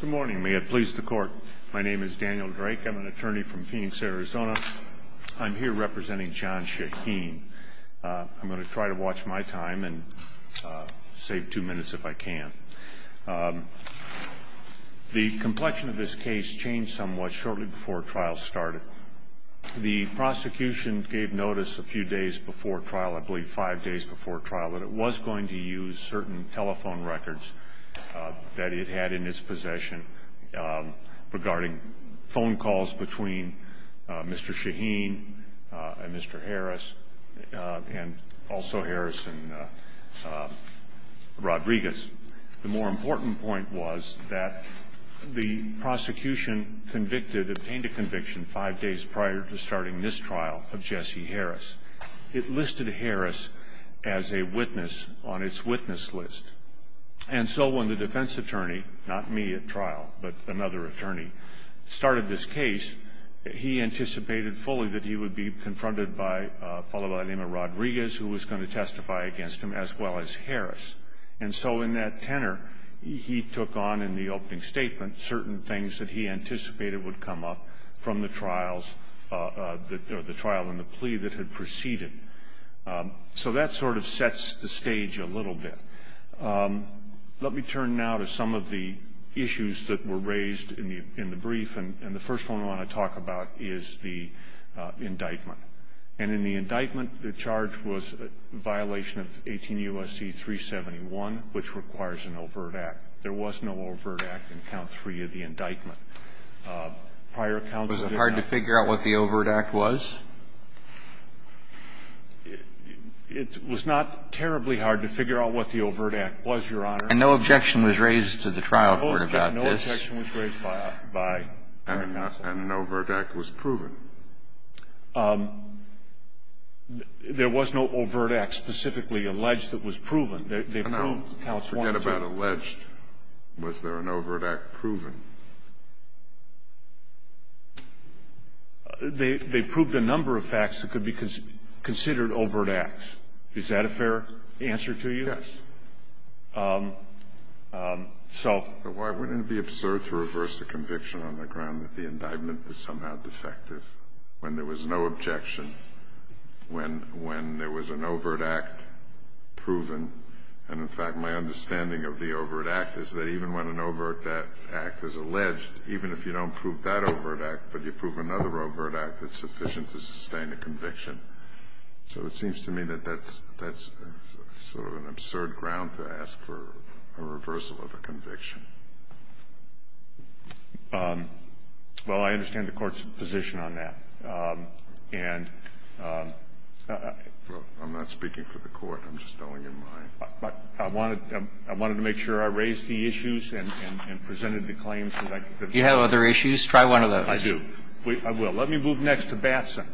Good morning. May it please the court. My name is Daniel Drake. I'm an attorney from Phoenix, Arizona. I'm here representing John Shahin. I'm going to try to watch my time and save two minutes if I can. The complexion of this case changed somewhat shortly before trial started. The prosecution gave notice a few days before trial, I believe five days before trial, that it was going to use certain telephone records that it had in its possession regarding phone calls between Mr. Shahin and Mr. Harris and also Harris and Rodriguez. The more important point was that the prosecution convicted, obtained a conviction five days prior to starting this trial of Jesse Harris. It listed Harris as a witness on its witness list. And so when the defense attorney, not me at trial, but another attorney, started this case, he anticipated fully that he would be confronted by a fellow by the name of Rodriguez, who was going to testify against him, as well as Harris. And so in that tenor, he took on in the opening statement certain things that he anticipated would come up from the trials, the trial and the plea that had proceeded. So that sort of sets the stage a little bit. Let me turn now to some of the issues that were raised in the brief. And the first one I want to talk about is the indictment. And in the indictment, the charge was a violation of 18 U.S.C. 371, which requires an overt act. There was no overt act in count three of the indictment. It was not terribly hard to figure out what the overt act was, Your Honor. And no objection was raised to the trial court about this. No objection was raised by the counsel. And an overt act was proven. There was no overt act specifically alleged that was proven. They proved, counsel, I forget about alleged. Was there an overt act proven? They proved a number of facts that could be considered overt acts. Is that a fair answer to you? Yes. So why wouldn't it be absurd to reverse the conviction on the ground that the indictment is somehow defective when there was no objection, when there was an overt act proven? And, in fact, my understanding of the overt act is that even when an overt act is alleged, even if you don't prove that overt act, but you prove another overt act, it's sufficient to sustain a conviction. So it seems to me that that's sort of an absurd ground to ask for a reversal of a conviction. Well, I understand the Court's position on that. And I'm not speaking for the Court. I'm just telling you mine. I wanted to make sure I raised the issues and presented the claims. Do you have other issues? Try one of those. I do. I will. Let me move next to Batson.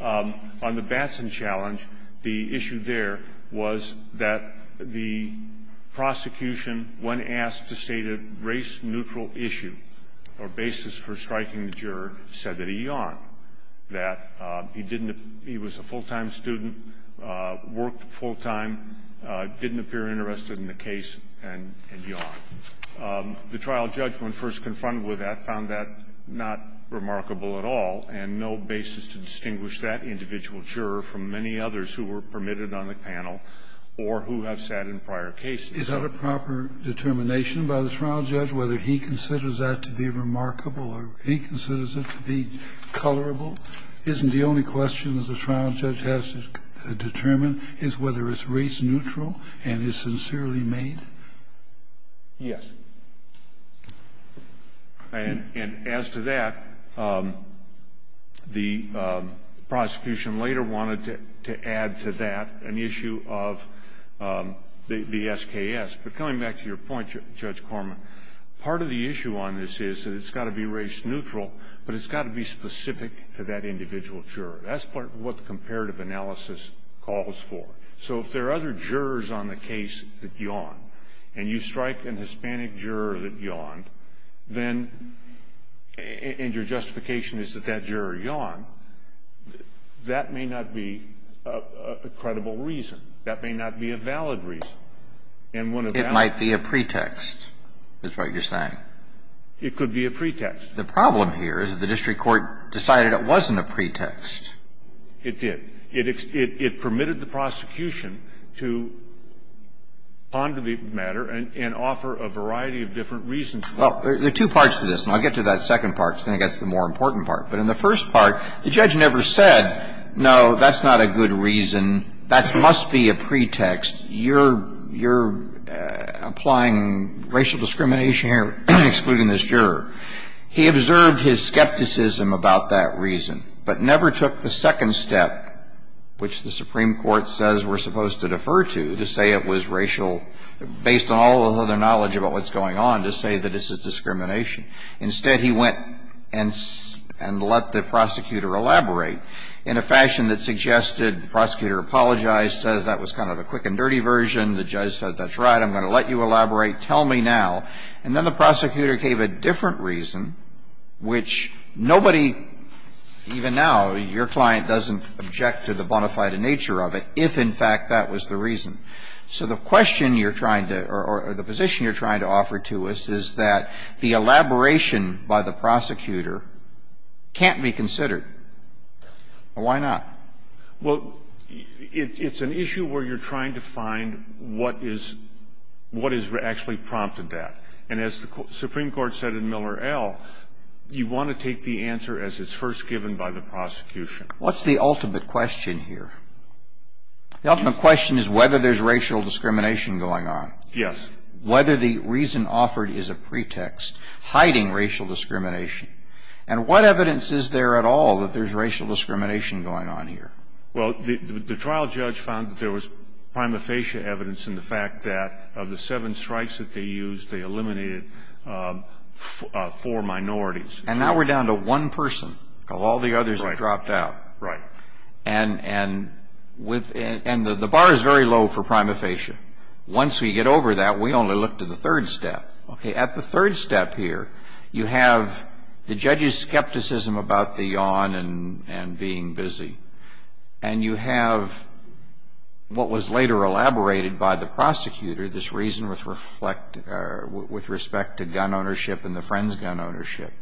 On the Batson challenge, the issue there was that the prosecution, when asked to state a race-neutral issue or basis for striking the juror, said that he yawned, that he didn't – he was a full-time student, worked full-time, didn't appear interested in the case, and yawned. The trial judge, when first confronted with that, found that not remarkable at all and no basis to distinguish that individual juror from many others who were permitted on the panel or who have sat in prior cases. Is that a proper determination by the trial judge, whether he considers that to be remarkable or he considers it to be colorable? Isn't the only question the trial judge has to determine is whether it's race-neutral and is sincerely made? Yes. And as to that, the prosecution later wanted to add to that an issue of the SKS. But coming back to your point, Judge Corman, part of the issue on this is that it's got to be race-neutral, but it's got to be specific to that individual juror. That's what the comparative analysis calls for. So if there are other jurors on the case that yawned, and you strike an Hispanic juror that yawned, then – and your justification is that that juror yawned – that may not be a credible reason. That may not be a valid reason. And one of that – It might be a pretext, is what you're saying. It could be a pretext. The problem here is that the district court decided it wasn't a pretext. It did. It permitted the prosecution to ponder the matter and offer a variety of different reasons. Well, there are two parts to this. And I'll get to that second part, because then it gets to the more important part. But in the first part, the judge never said, no, that's not a good reason. That must be a pretext. You're applying racial discrimination here, excluding this juror. He observed his skepticism about that reason, but never took the second step, which the Supreme Court says we're supposed to defer to, to say it was racial – based on all of the other knowledge about what's going on, to say that this is discrimination. Instead, he went and let the prosecutor elaborate in a fashion that suggested the prosecutor apologized, says that was kind of the quick and dirty version. The judge said, that's right. I'm going to let you elaborate. Tell me now. And then the prosecutor gave a different reason, which nobody, even now, your client doesn't object to the bona fide nature of it, if in fact that was the reason. So the question you're trying to, or the position you're trying to offer to us, is that the elaboration by the prosecutor can't be considered. Why not? Well, it's an issue where you're trying to find what is – what has actually prompted that. And as the Supreme Court said in Miller L., you want to take the answer as it's first given by the prosecution. What's the ultimate question here? The ultimate question is whether there's racial discrimination going on. Yes. Whether the reason offered is a pretext hiding racial discrimination. And what evidence is there at all that there's racial discrimination going on here? Well, the trial judge found that there was prima facie evidence in the fact that of the seven strikes that they used, they eliminated four minorities. And now we're down to one person of all the others that dropped out. Right. And the bar is very low for prima facie. Once we get over that, we only look to the third step. Okay. At the third step here, you have the judge's skepticism about the yawn and being busy, and you have what was later elaborated by the prosecutor, this reason with respect to gun ownership and the friend's gun ownership.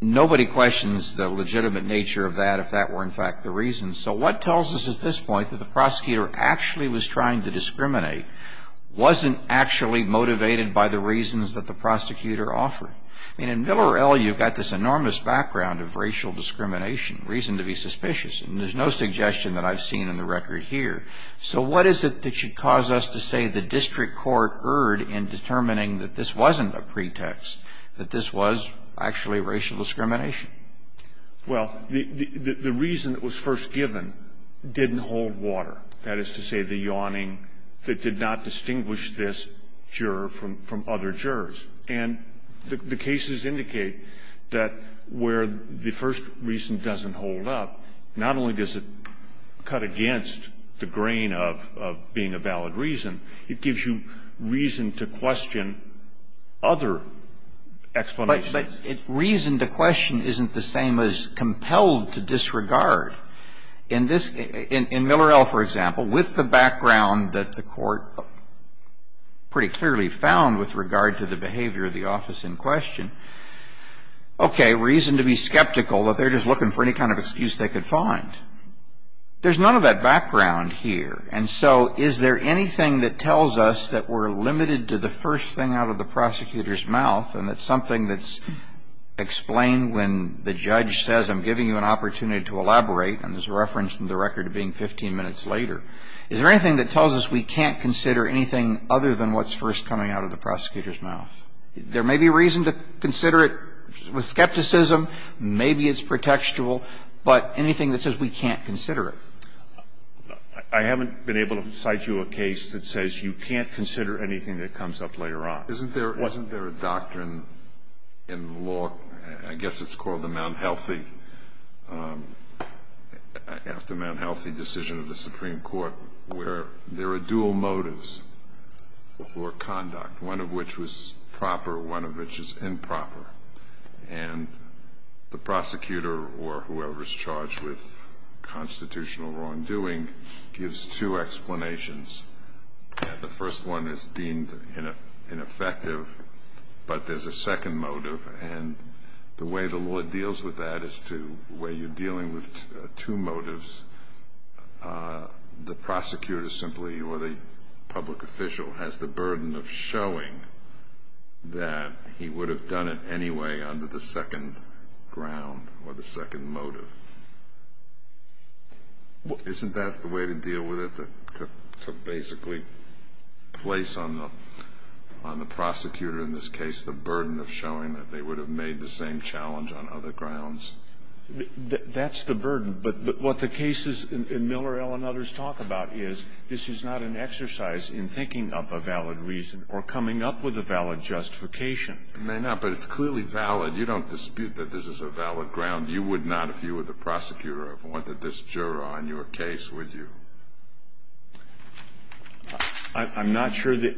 Nobody questions the legitimate nature of that if that were, in fact, the reason. So what tells us at this point that the prosecutor actually was trying to discriminate, wasn't actually motivated by the reasons that the prosecutor offered? I mean, in Miller L., you've got this enormous background of racial discrimination, reason to be suspicious. And there's no suggestion that I've seen in the record here. So what is it that should cause us to say the district court erred in determining that this wasn't a pretext, that this was actually racial discrimination? Well, the reason that was first given didn't hold water, that is to say the yawning that did not distinguish this juror from other jurors. And the cases indicate that where the first reason doesn't hold up, not only does it cut against the grain of being a valid reason, it gives you reason to question other explanations. But reason to question isn't the same as compelled to disregard. In this, in Miller L., for example, with the background that the Court pretty clearly found with regard to the behavior of the office in question, okay, reason to be skeptical that they're just looking for any kind of excuse they could find. There's none of that background here. And so is there anything that tells us that we're limited to the first thing out of the prosecutor's mouth and that's something that's explained when the judge says, I'm giving you an opportunity to elaborate, and there's a reference in the record to being 15 minutes later. Is there anything that tells us we can't consider anything other than what's first coming out of the prosecutor's mouth? There may be reason to consider it with skepticism. Maybe it's pretextual. But anything that says we can't consider it? I haven't been able to cite you a case that says you can't consider anything that comes up later on. Isn't there a doctrine in law, I guess it's called the Mt. Healthy, after Mt. Healthy decision of the Supreme Court, where there are dual motives for conduct, one of which was proper, one of which is improper. And the prosecutor or whoever's charged with constitutional wrongdoing gives two explanations. The first one is deemed ineffective, but there's a second motive. And the way the law deals with that is to where you're dealing with two motives, the prosecutor simply or the public official has the burden of showing that he would have done it anyway under the second ground or the second motive. Isn't that the way to deal with it, to basically place on the prosecutor in this case the burden of showing that they would have made the same challenge on other grounds? That's the burden. But what the cases in Miller, Ell, and others talk about is this is not an exercise in thinking up a valid reason or coming up with a valid justification. It may not, but it's clearly valid. You don't dispute that this is a valid ground. You would not if you were the prosecutor and wanted this juror on your case, would I'm not sure that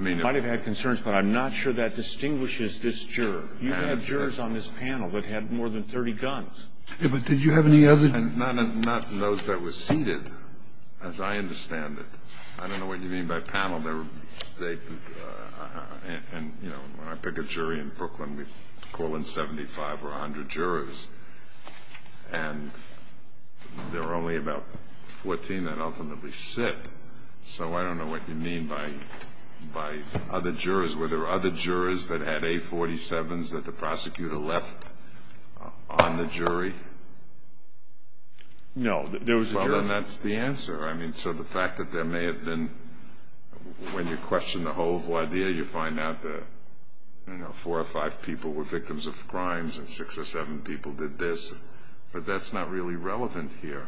you might have had concerns, but I'm not sure that distinguishes this juror. You have jurors on this panel that have more than 30 guns. And not those that were seated, as I understand it. I don't know what you mean by panel. And, you know, when I pick a jury in Brooklyn, we call in 75 or 100 jurors. And there are only about 14 that ultimately sit. So I don't know what you mean by other jurors. Were there other jurors that had A47s that the prosecutor left on the jury? No. There was a jury. Well, then that's the answer. I mean, so the fact that there may have been, when you question the whole idea, you find out that, you know, four or five people were victims of crimes and six or seven people did this. But that's not really relevant here.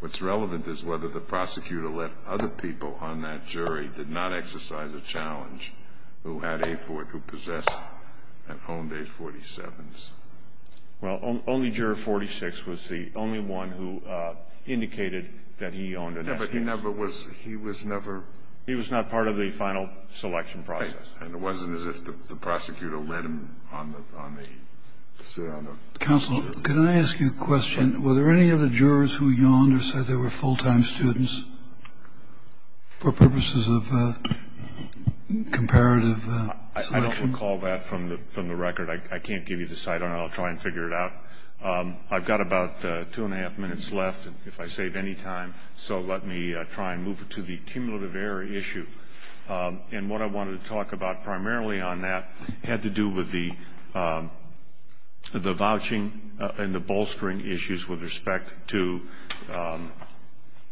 What's relevant is whether the prosecutor let other people on that jury did not exercise a challenge who possessed and owned A47s. Well, only Juror 46 was the only one who indicated that he owned an SPS. Yeah, but he never was – he was never – He was not part of the final selection process. Right. And it wasn't as if the prosecutor let him on the – sit on the jury. Counsel, can I ask you a question? Were there any other jurors who yawned or said they were full-time students for purposes of comparative selection? I don't recall that from the record. I can't give you the site on it. I'll try and figure it out. I've got about two and a half minutes left, if I save any time. So let me try and move to the cumulative error issue. And what I wanted to talk about primarily on that had to do with the vouching and the bolstering issues with respect to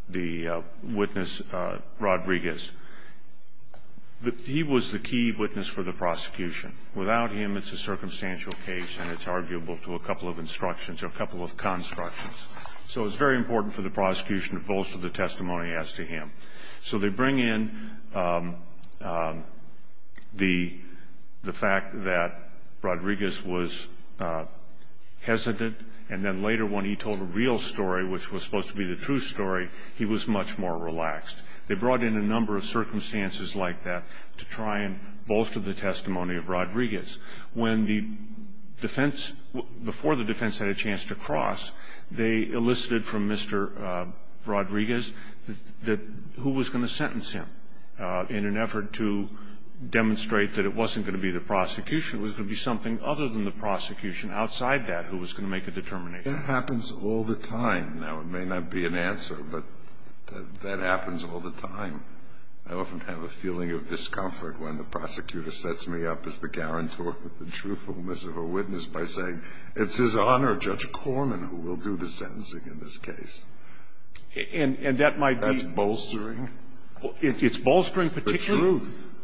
the witness, Rodriguez. He was the key witness for the prosecution. Without him, it's a circumstantial case, and it's arguable to a couple of instructions or a couple of constructions. So it's very important for the prosecution to bolster the testimony as to him. So they bring in the fact that Rodriguez was hesitant, and then later when he told a real story, which was supposed to be the true story, he was much more relaxed. They brought in a number of circumstances like that to try and bolster the testimony of Rodriguez. When the defense, before the defense had a chance to cross, they elicited from Mr. Rodriguez who was going to sentence him in an effort to demonstrate that it wasn't going to be the prosecution. It was going to be something other than the prosecution outside that who was going to make a determination. That happens all the time. Now, it may not be an answer, but that happens all the time. I often have a feeling of discomfort when the prosecutor sets me up as the guarantor of the truthfulness of a witness by saying it's his honor, Judge Corman, who will do the sentencing in this case. And that might be bolstering. It's bolstering particularly. The truth.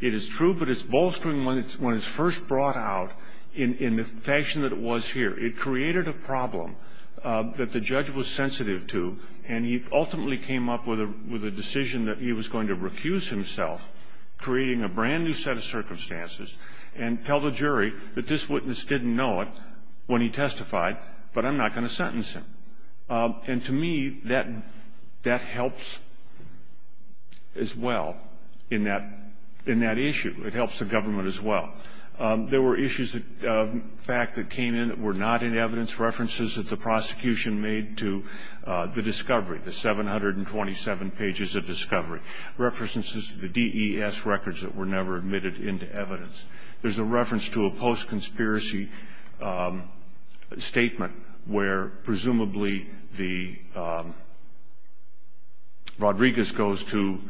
It is true, but it's bolstering when it's first brought out in the fashion that it was here. It created a problem that the judge was sensitive to, and he ultimately came up with a decision that he was going to recuse himself, creating a brand new set of circumstances, and tell the jury that this witness didn't know it when he testified, but I'm not going to sentence him. And to me, that helps as well in that issue. It helps the government as well. There were issues of fact that came in that were not in evidence, references that the prosecution made to the discovery, the 727 pages of discovery, references to the DES records that were never admitted into evidence. There's a reference to a post-conspiracy statement where presumably Rodriguez goes to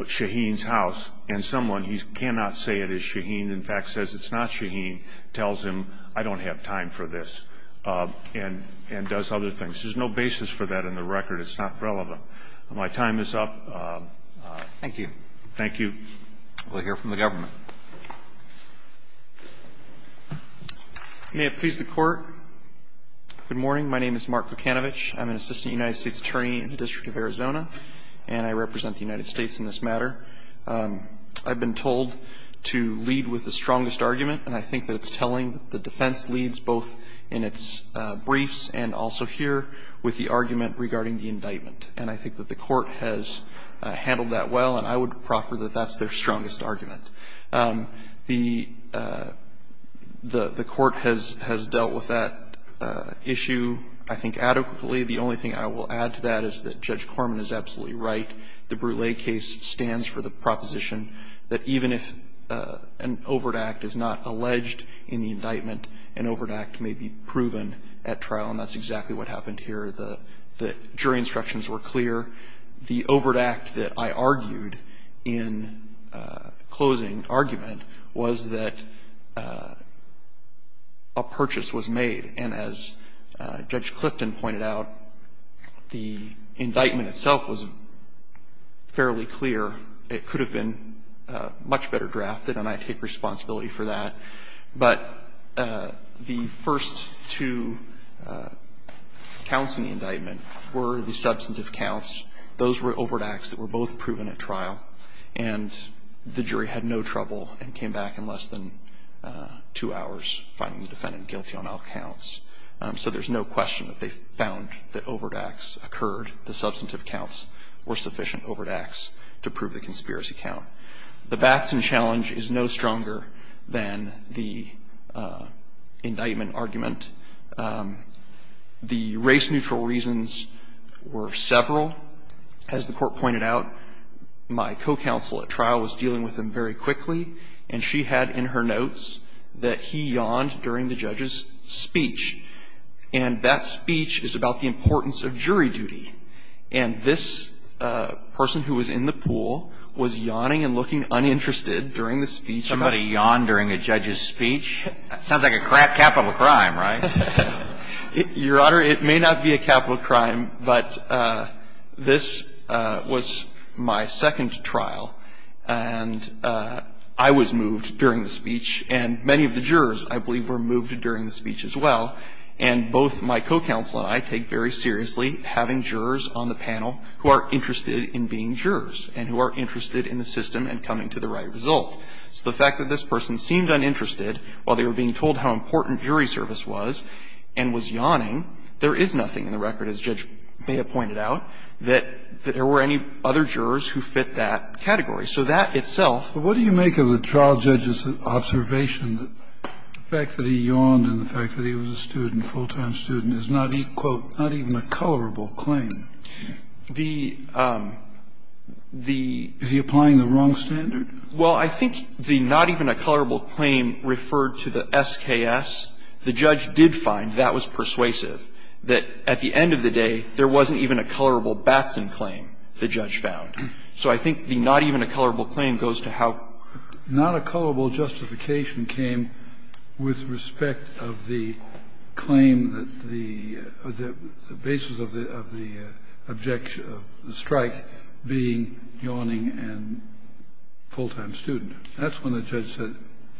Shaheen's house, and someone, he cannot say it is Shaheen, in fact, says it's not Shaheen, tells him, I don't have time for this. And does other things. There's no basis for that in the record. It's not relevant. My time is up. Thank you. Thank you. We'll hear from the government. May it please the Court. Good morning. My name is Mark Lukanovich. I'm an assistant United States attorney in the District of Arizona, and I represent the United States in this matter. I've been told to lead with the strongest argument, and I think that it's telling the defense leads, both in its briefs and also here, with the argument regarding the indictment. And I think that the Court has handled that well, and I would proffer that that's their strongest argument. The Court has dealt with that issue, I think, adequately. The only thing I will add to that is that Judge Corman is absolutely right. The Brule case stands for the proposition that even if an overt act is not alleged in the indictment, an overt act may be proven at trial. And that's exactly what happened here. The jury instructions were clear. The overt act that I argued in closing argument was that a purchase was made. And as Judge Clifton pointed out, the indictment itself was fairly clear. It could have been much better drafted, and I take responsibility for that. But the first two counts in the indictment were the substantive counts. Those were overt acts that were both proven at trial, and the jury had no trouble and came back in less than two hours finding the defendant guilty on all counts. So there's no question that they found that overt acts occurred. The substantive counts were sufficient overt acts to prove the conspiracy count. The Batson challenge is no stronger than the indictment argument. The race-neutral reasons were several. As the Court pointed out, my co-counsel at trial was dealing with them very quickly, and she had in her notes that he yawned during the judge's speech. And that speech is about the importance of jury duty. And this person who was in the pool was yawning and looking uninterested during the speech. Somebody yawned during a judge's speech? Sounds like a crap capital crime, right? Your Honor, it may not be a capital crime, but this was my second trial, and I was moved during the speech, and many of the jurors, I believe, were moved during the speech as well. And both my co-counsel and I take very seriously having jurors on the panel who are interested in being jurors and who are interested in the system and coming to the right result. So the fact that this person seemed uninterested while they were being told how important jury service was and was yawning, there is nothing in the record, as Judge Bea pointed out, that there were any other jurors who fit that category. So that itself was a problem. Kennedy, you mentioned that the fact that he yawned and the fact that he was a student, full-time student, is not, quote, not even a colorable claim. Is he applying the wrong standard? Well, I think the not even a colorable claim referred to the SKS. The judge did find that was persuasive, that at the end of the day there wasn't even a colorable Batson claim, the judge found. So I think the not even a colorable claim goes to how not a colorable justification came with respect of the claim that the basis of the objection of the strike being yawning and full-time student. That's when the judge said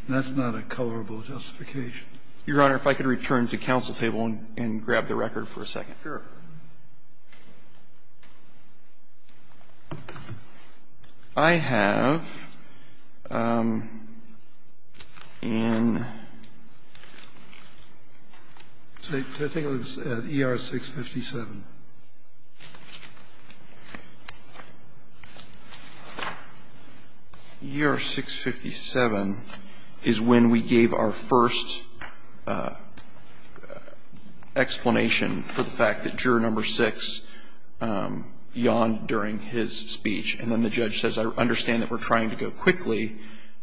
that's not a colorable justification. Your Honor, if I could return to counsel table and grab the record for a second. I have an ER 657. ER 657 is when we gave our first explanation for the fact that he was a student and the fact that juror number six yawned during his speech, and then the judge says I understand that we're trying to go quickly,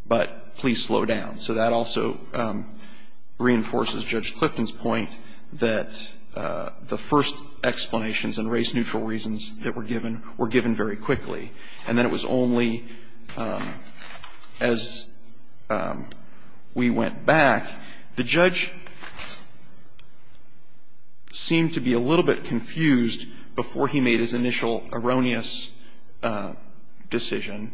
but please slow down. So that also reinforces Judge Clifton's point that the first explanations and race-neutral reasons that were given were given very quickly, and that it was only as we went back, the judge seemed to be a little bit confused before he made his initial erroneous decision.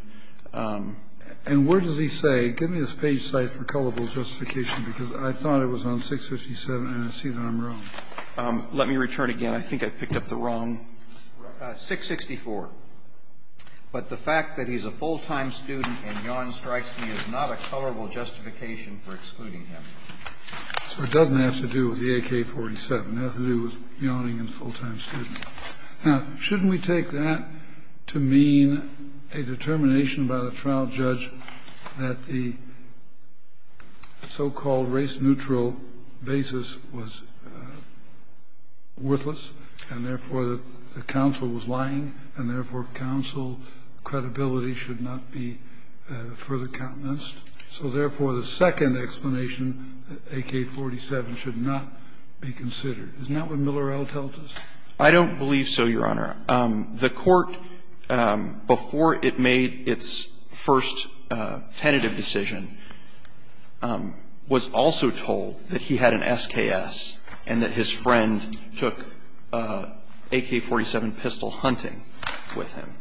And where does he say, give me this page cited for colorable justification, because I thought it was on 657, and I see that I'm wrong. Let me return again. I think I picked up the wrong. 664. But the fact that he's a full-time student and yawns, strikes me as not a colorable justification for excluding him. So it doesn't have to do with the AK-47. It has to do with yawning and full-time student. Now, shouldn't we take that to mean a determination by the trial judge that the so-called race-neutral basis was worthless, and therefore the counsel was lying, and therefore counsel credibility should not be further countenanced? So therefore, the second explanation, AK-47, should not be considered. Isn't that what Miller et al. tells us? I don't believe so, Your Honor. The court, before it made its first tentative decision, was also told that he had an SKS and that his friend took AK-47 pistol hunting with him.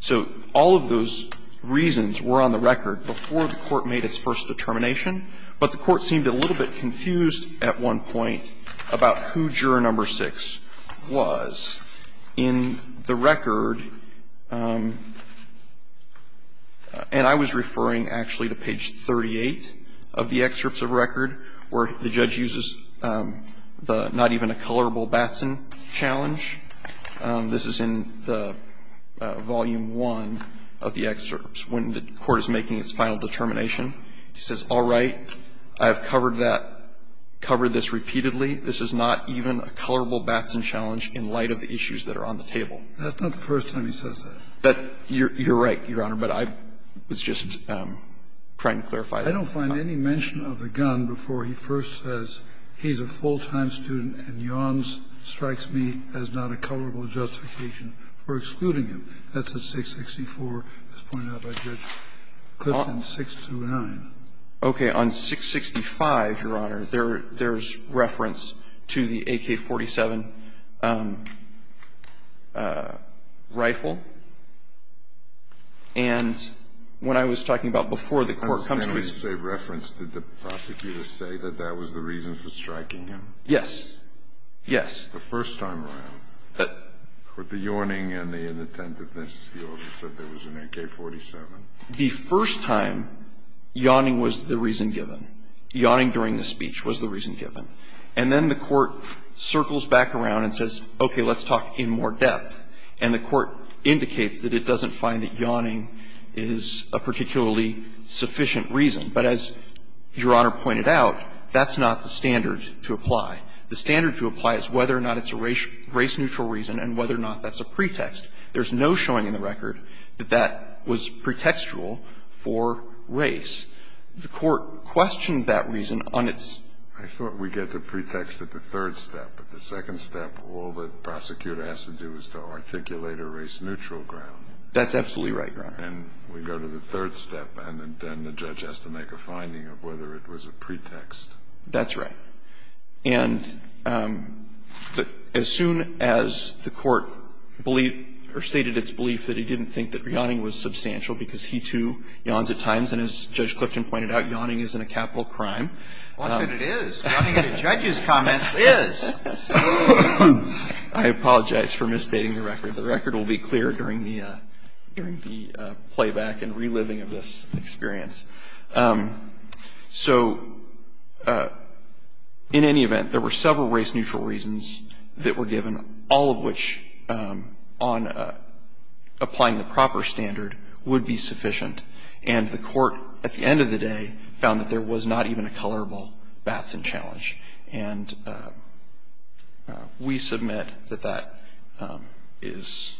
So all of those reasons were on the record before the court made its first determination, but the court seemed a little bit confused at one point about who Juror No. 6 was. In the record, and I was referring actually to page 38 of the excerpts of record where the judge uses the not even a colorable Batson challenge. This is in the Volume I of the excerpts when the court is making its final determination. He says, all right, I have covered that, covered this repeatedly. This is not even a colorable Batson challenge in light of the issues that are on the table. That's not the first time he says that. But you're right, Your Honor, but I was just trying to clarify that. I don't find any mention of the gun before he first says he's a full-time student and yawns, strikes me as not a colorable justification for excluding him. That's at 664, as pointed out by Judge Clifton, 629. Okay. On 665, Your Honor, there's reference to the AK-47 rifle. And when I was talking about before the court comes to its conclusion. I understand when you say reference, did the prosecutor say that that was the reason for striking him? Yes. Yes. The first time around. But the yawning and the inattentiveness, the officer said there was an AK-47. The first time, yawning was the reason given. Yawning during the speech was the reason given. And then the court circles back around and says, okay, let's talk in more depth. And the court indicates that it doesn't find that yawning is a particularly sufficient reason. But as Your Honor pointed out, that's not the standard to apply. The standard to apply is whether or not it's a race-neutral reason and whether or not that's a pretext. There's no showing in the record that that was pretextual for race. The court questioned that reason on its own. I thought we get the pretext at the third step. At the second step, all the prosecutor has to do is to articulate a race-neutral ground. That's absolutely right, Your Honor. And we go to the third step, and then the judge has to make a finding of whether it was a pretext. That's right. And as soon as the court believed or stated its belief that he didn't think that yawning was substantial because he, too, yawns at times, and as Judge Clifton pointed out, yawning isn't a capital crime. I said it is. Yawning at a judge's comments is. I apologize for misstating the record. The record will be clear during the playback and reliving of this experience. So in any event, there were several race-neutral reasons that were given, all of which on applying the proper standard would be sufficient. And the court at the end of the day found that there was not even a colorable Batson challenge. And we submit that that is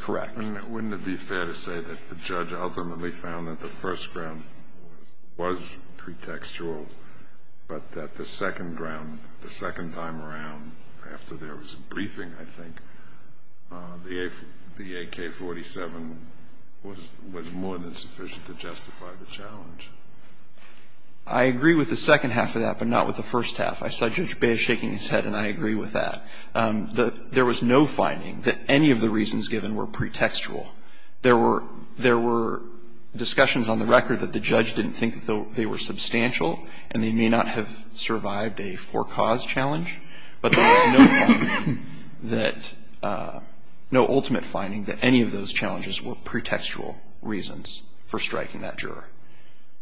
correct. And wouldn't it be fair to say that the judge ultimately found that the first ground was pretextual, but that the second ground, the second time around, after there was a briefing, I think, the AK-47 was more than sufficient to justify the challenge? I agree with the second half of that, but not with the first half. I saw Judge Baer shaking his head, and I agree with that. There was no finding that any of the reasons given were pretextual. There were discussions on the record that the judge didn't think that they were substantial, and they may not have survived a for-cause challenge, but there was no finding that no ultimate finding that any of those challenges were pretextual reasons for striking that juror.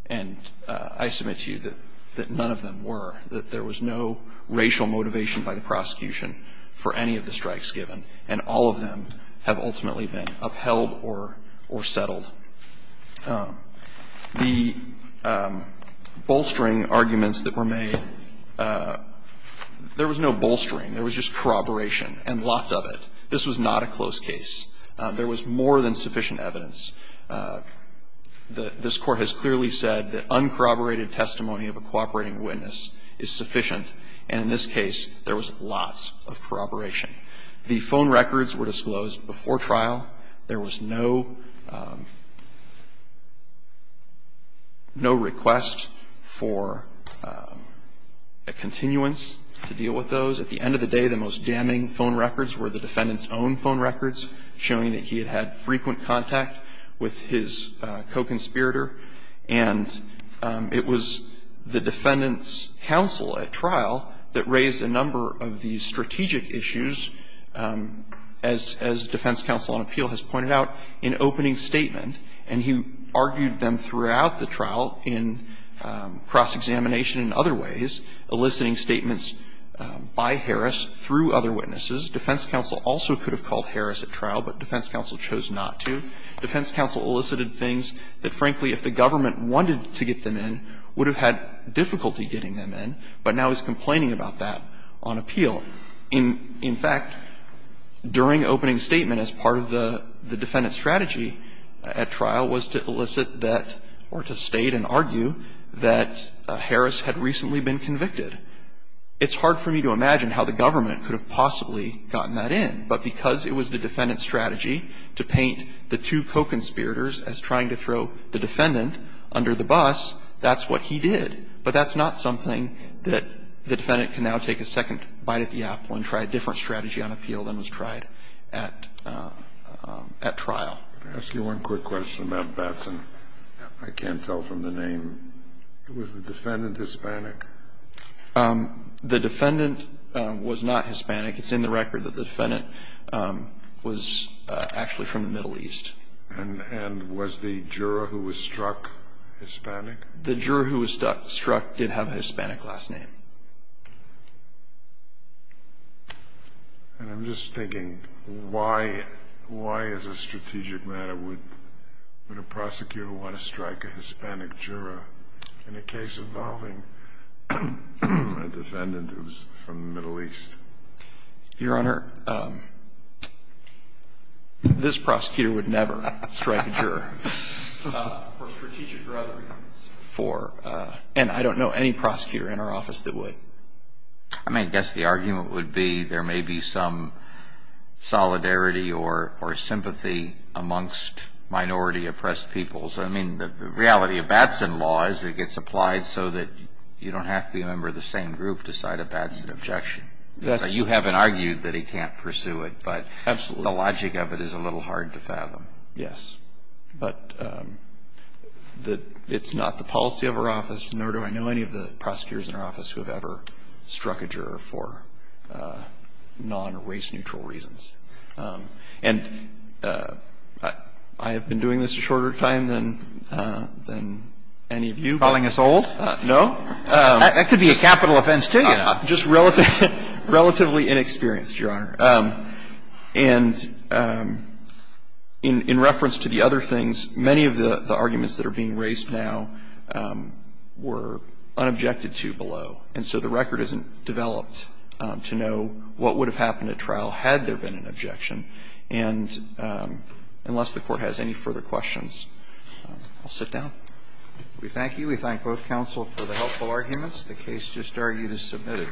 And I submit to you that none of them were, that there was no racial motivation by the prosecution for any of the strikes given, and all of them have ultimately been upheld or settled. The bolstering arguments that were made, there was no bolstering. There was just corroboration, and lots of it. This was not a close case. There was more than sufficient evidence. This Court has clearly said that uncorroborated testimony of a cooperating witness is sufficient, and in this case, there was lots of corroboration. The phone records were disclosed before trial. There was no request for a continuance to deal with those. At the end of the day, the most damning phone records were the defendant's own phone records, showing that he had had frequent contact with his co-conspirator, and it was the defendant's counsel at trial that raised a number of these strategic issues, as Defense Counsel on Appeal has pointed out, in opening statement. And he argued them throughout the trial in cross-examination and other ways, eliciting statements by Harris through other witnesses. Defense Counsel also could have called Harris at trial, but Defense Counsel chose not to. Defense Counsel elicited things that, frankly, if the government wanted to get them in, would have had difficulty getting them in, but now he's complaining about that on appeal. In fact, during opening statement, as part of the defendant's strategy at trial was to elicit that or to state and argue that Harris had recently been convicted. It's hard for me to imagine how the government could have possibly gotten that in, but because it was the defendant's strategy to paint the two co-conspirators as trying to throw the defendant under the bus, that's what he did. But that's not something that the defendant can now take a second bite at the apple and try a different strategy on appeal than was tried at trial. Kennedy, I'm going to ask you one quick question about Batson. I can't tell from the name. Was the defendant Hispanic? The defendant was not Hispanic. It's in the record that the defendant was actually from the Middle East. And was the juror who was struck Hispanic? The juror who was struck did have a Hispanic last name. And I'm just thinking, why as a strategic matter would a prosecutor want to strike a Hispanic juror in a case involving a defendant who's from the Middle East? Your Honor, this prosecutor would never strike a juror for strategic or other reasons. And I don't know any prosecutor in our office that would. I mean, I guess the argument would be there may be some solidarity or sympathy amongst minority oppressed peoples. I mean, the reality of Batson law is it gets applied so that you don't have to be a member of the same group to cite a Batson objection. You haven't argued that he can't pursue it. But the logic of it is a little hard to fathom. Yes. But it's not the policy of our office, nor do I know any of the prosecutors in our office who have ever struck a juror for non-race neutral reasons. And I have been doing this a shorter time than any of you. Calling us old? No. That could be a capital offense, too, Your Honor. Just relatively inexperienced, Your Honor. And in reference to the other things, many of the arguments that are being raised now were unobjected to below. And so the record isn't developed to know what would have happened at trial had there been an objection. And unless the Court has any further questions, I'll sit down. We thank you. We thank both counsel for the helpful arguments. The case just argued as submitted.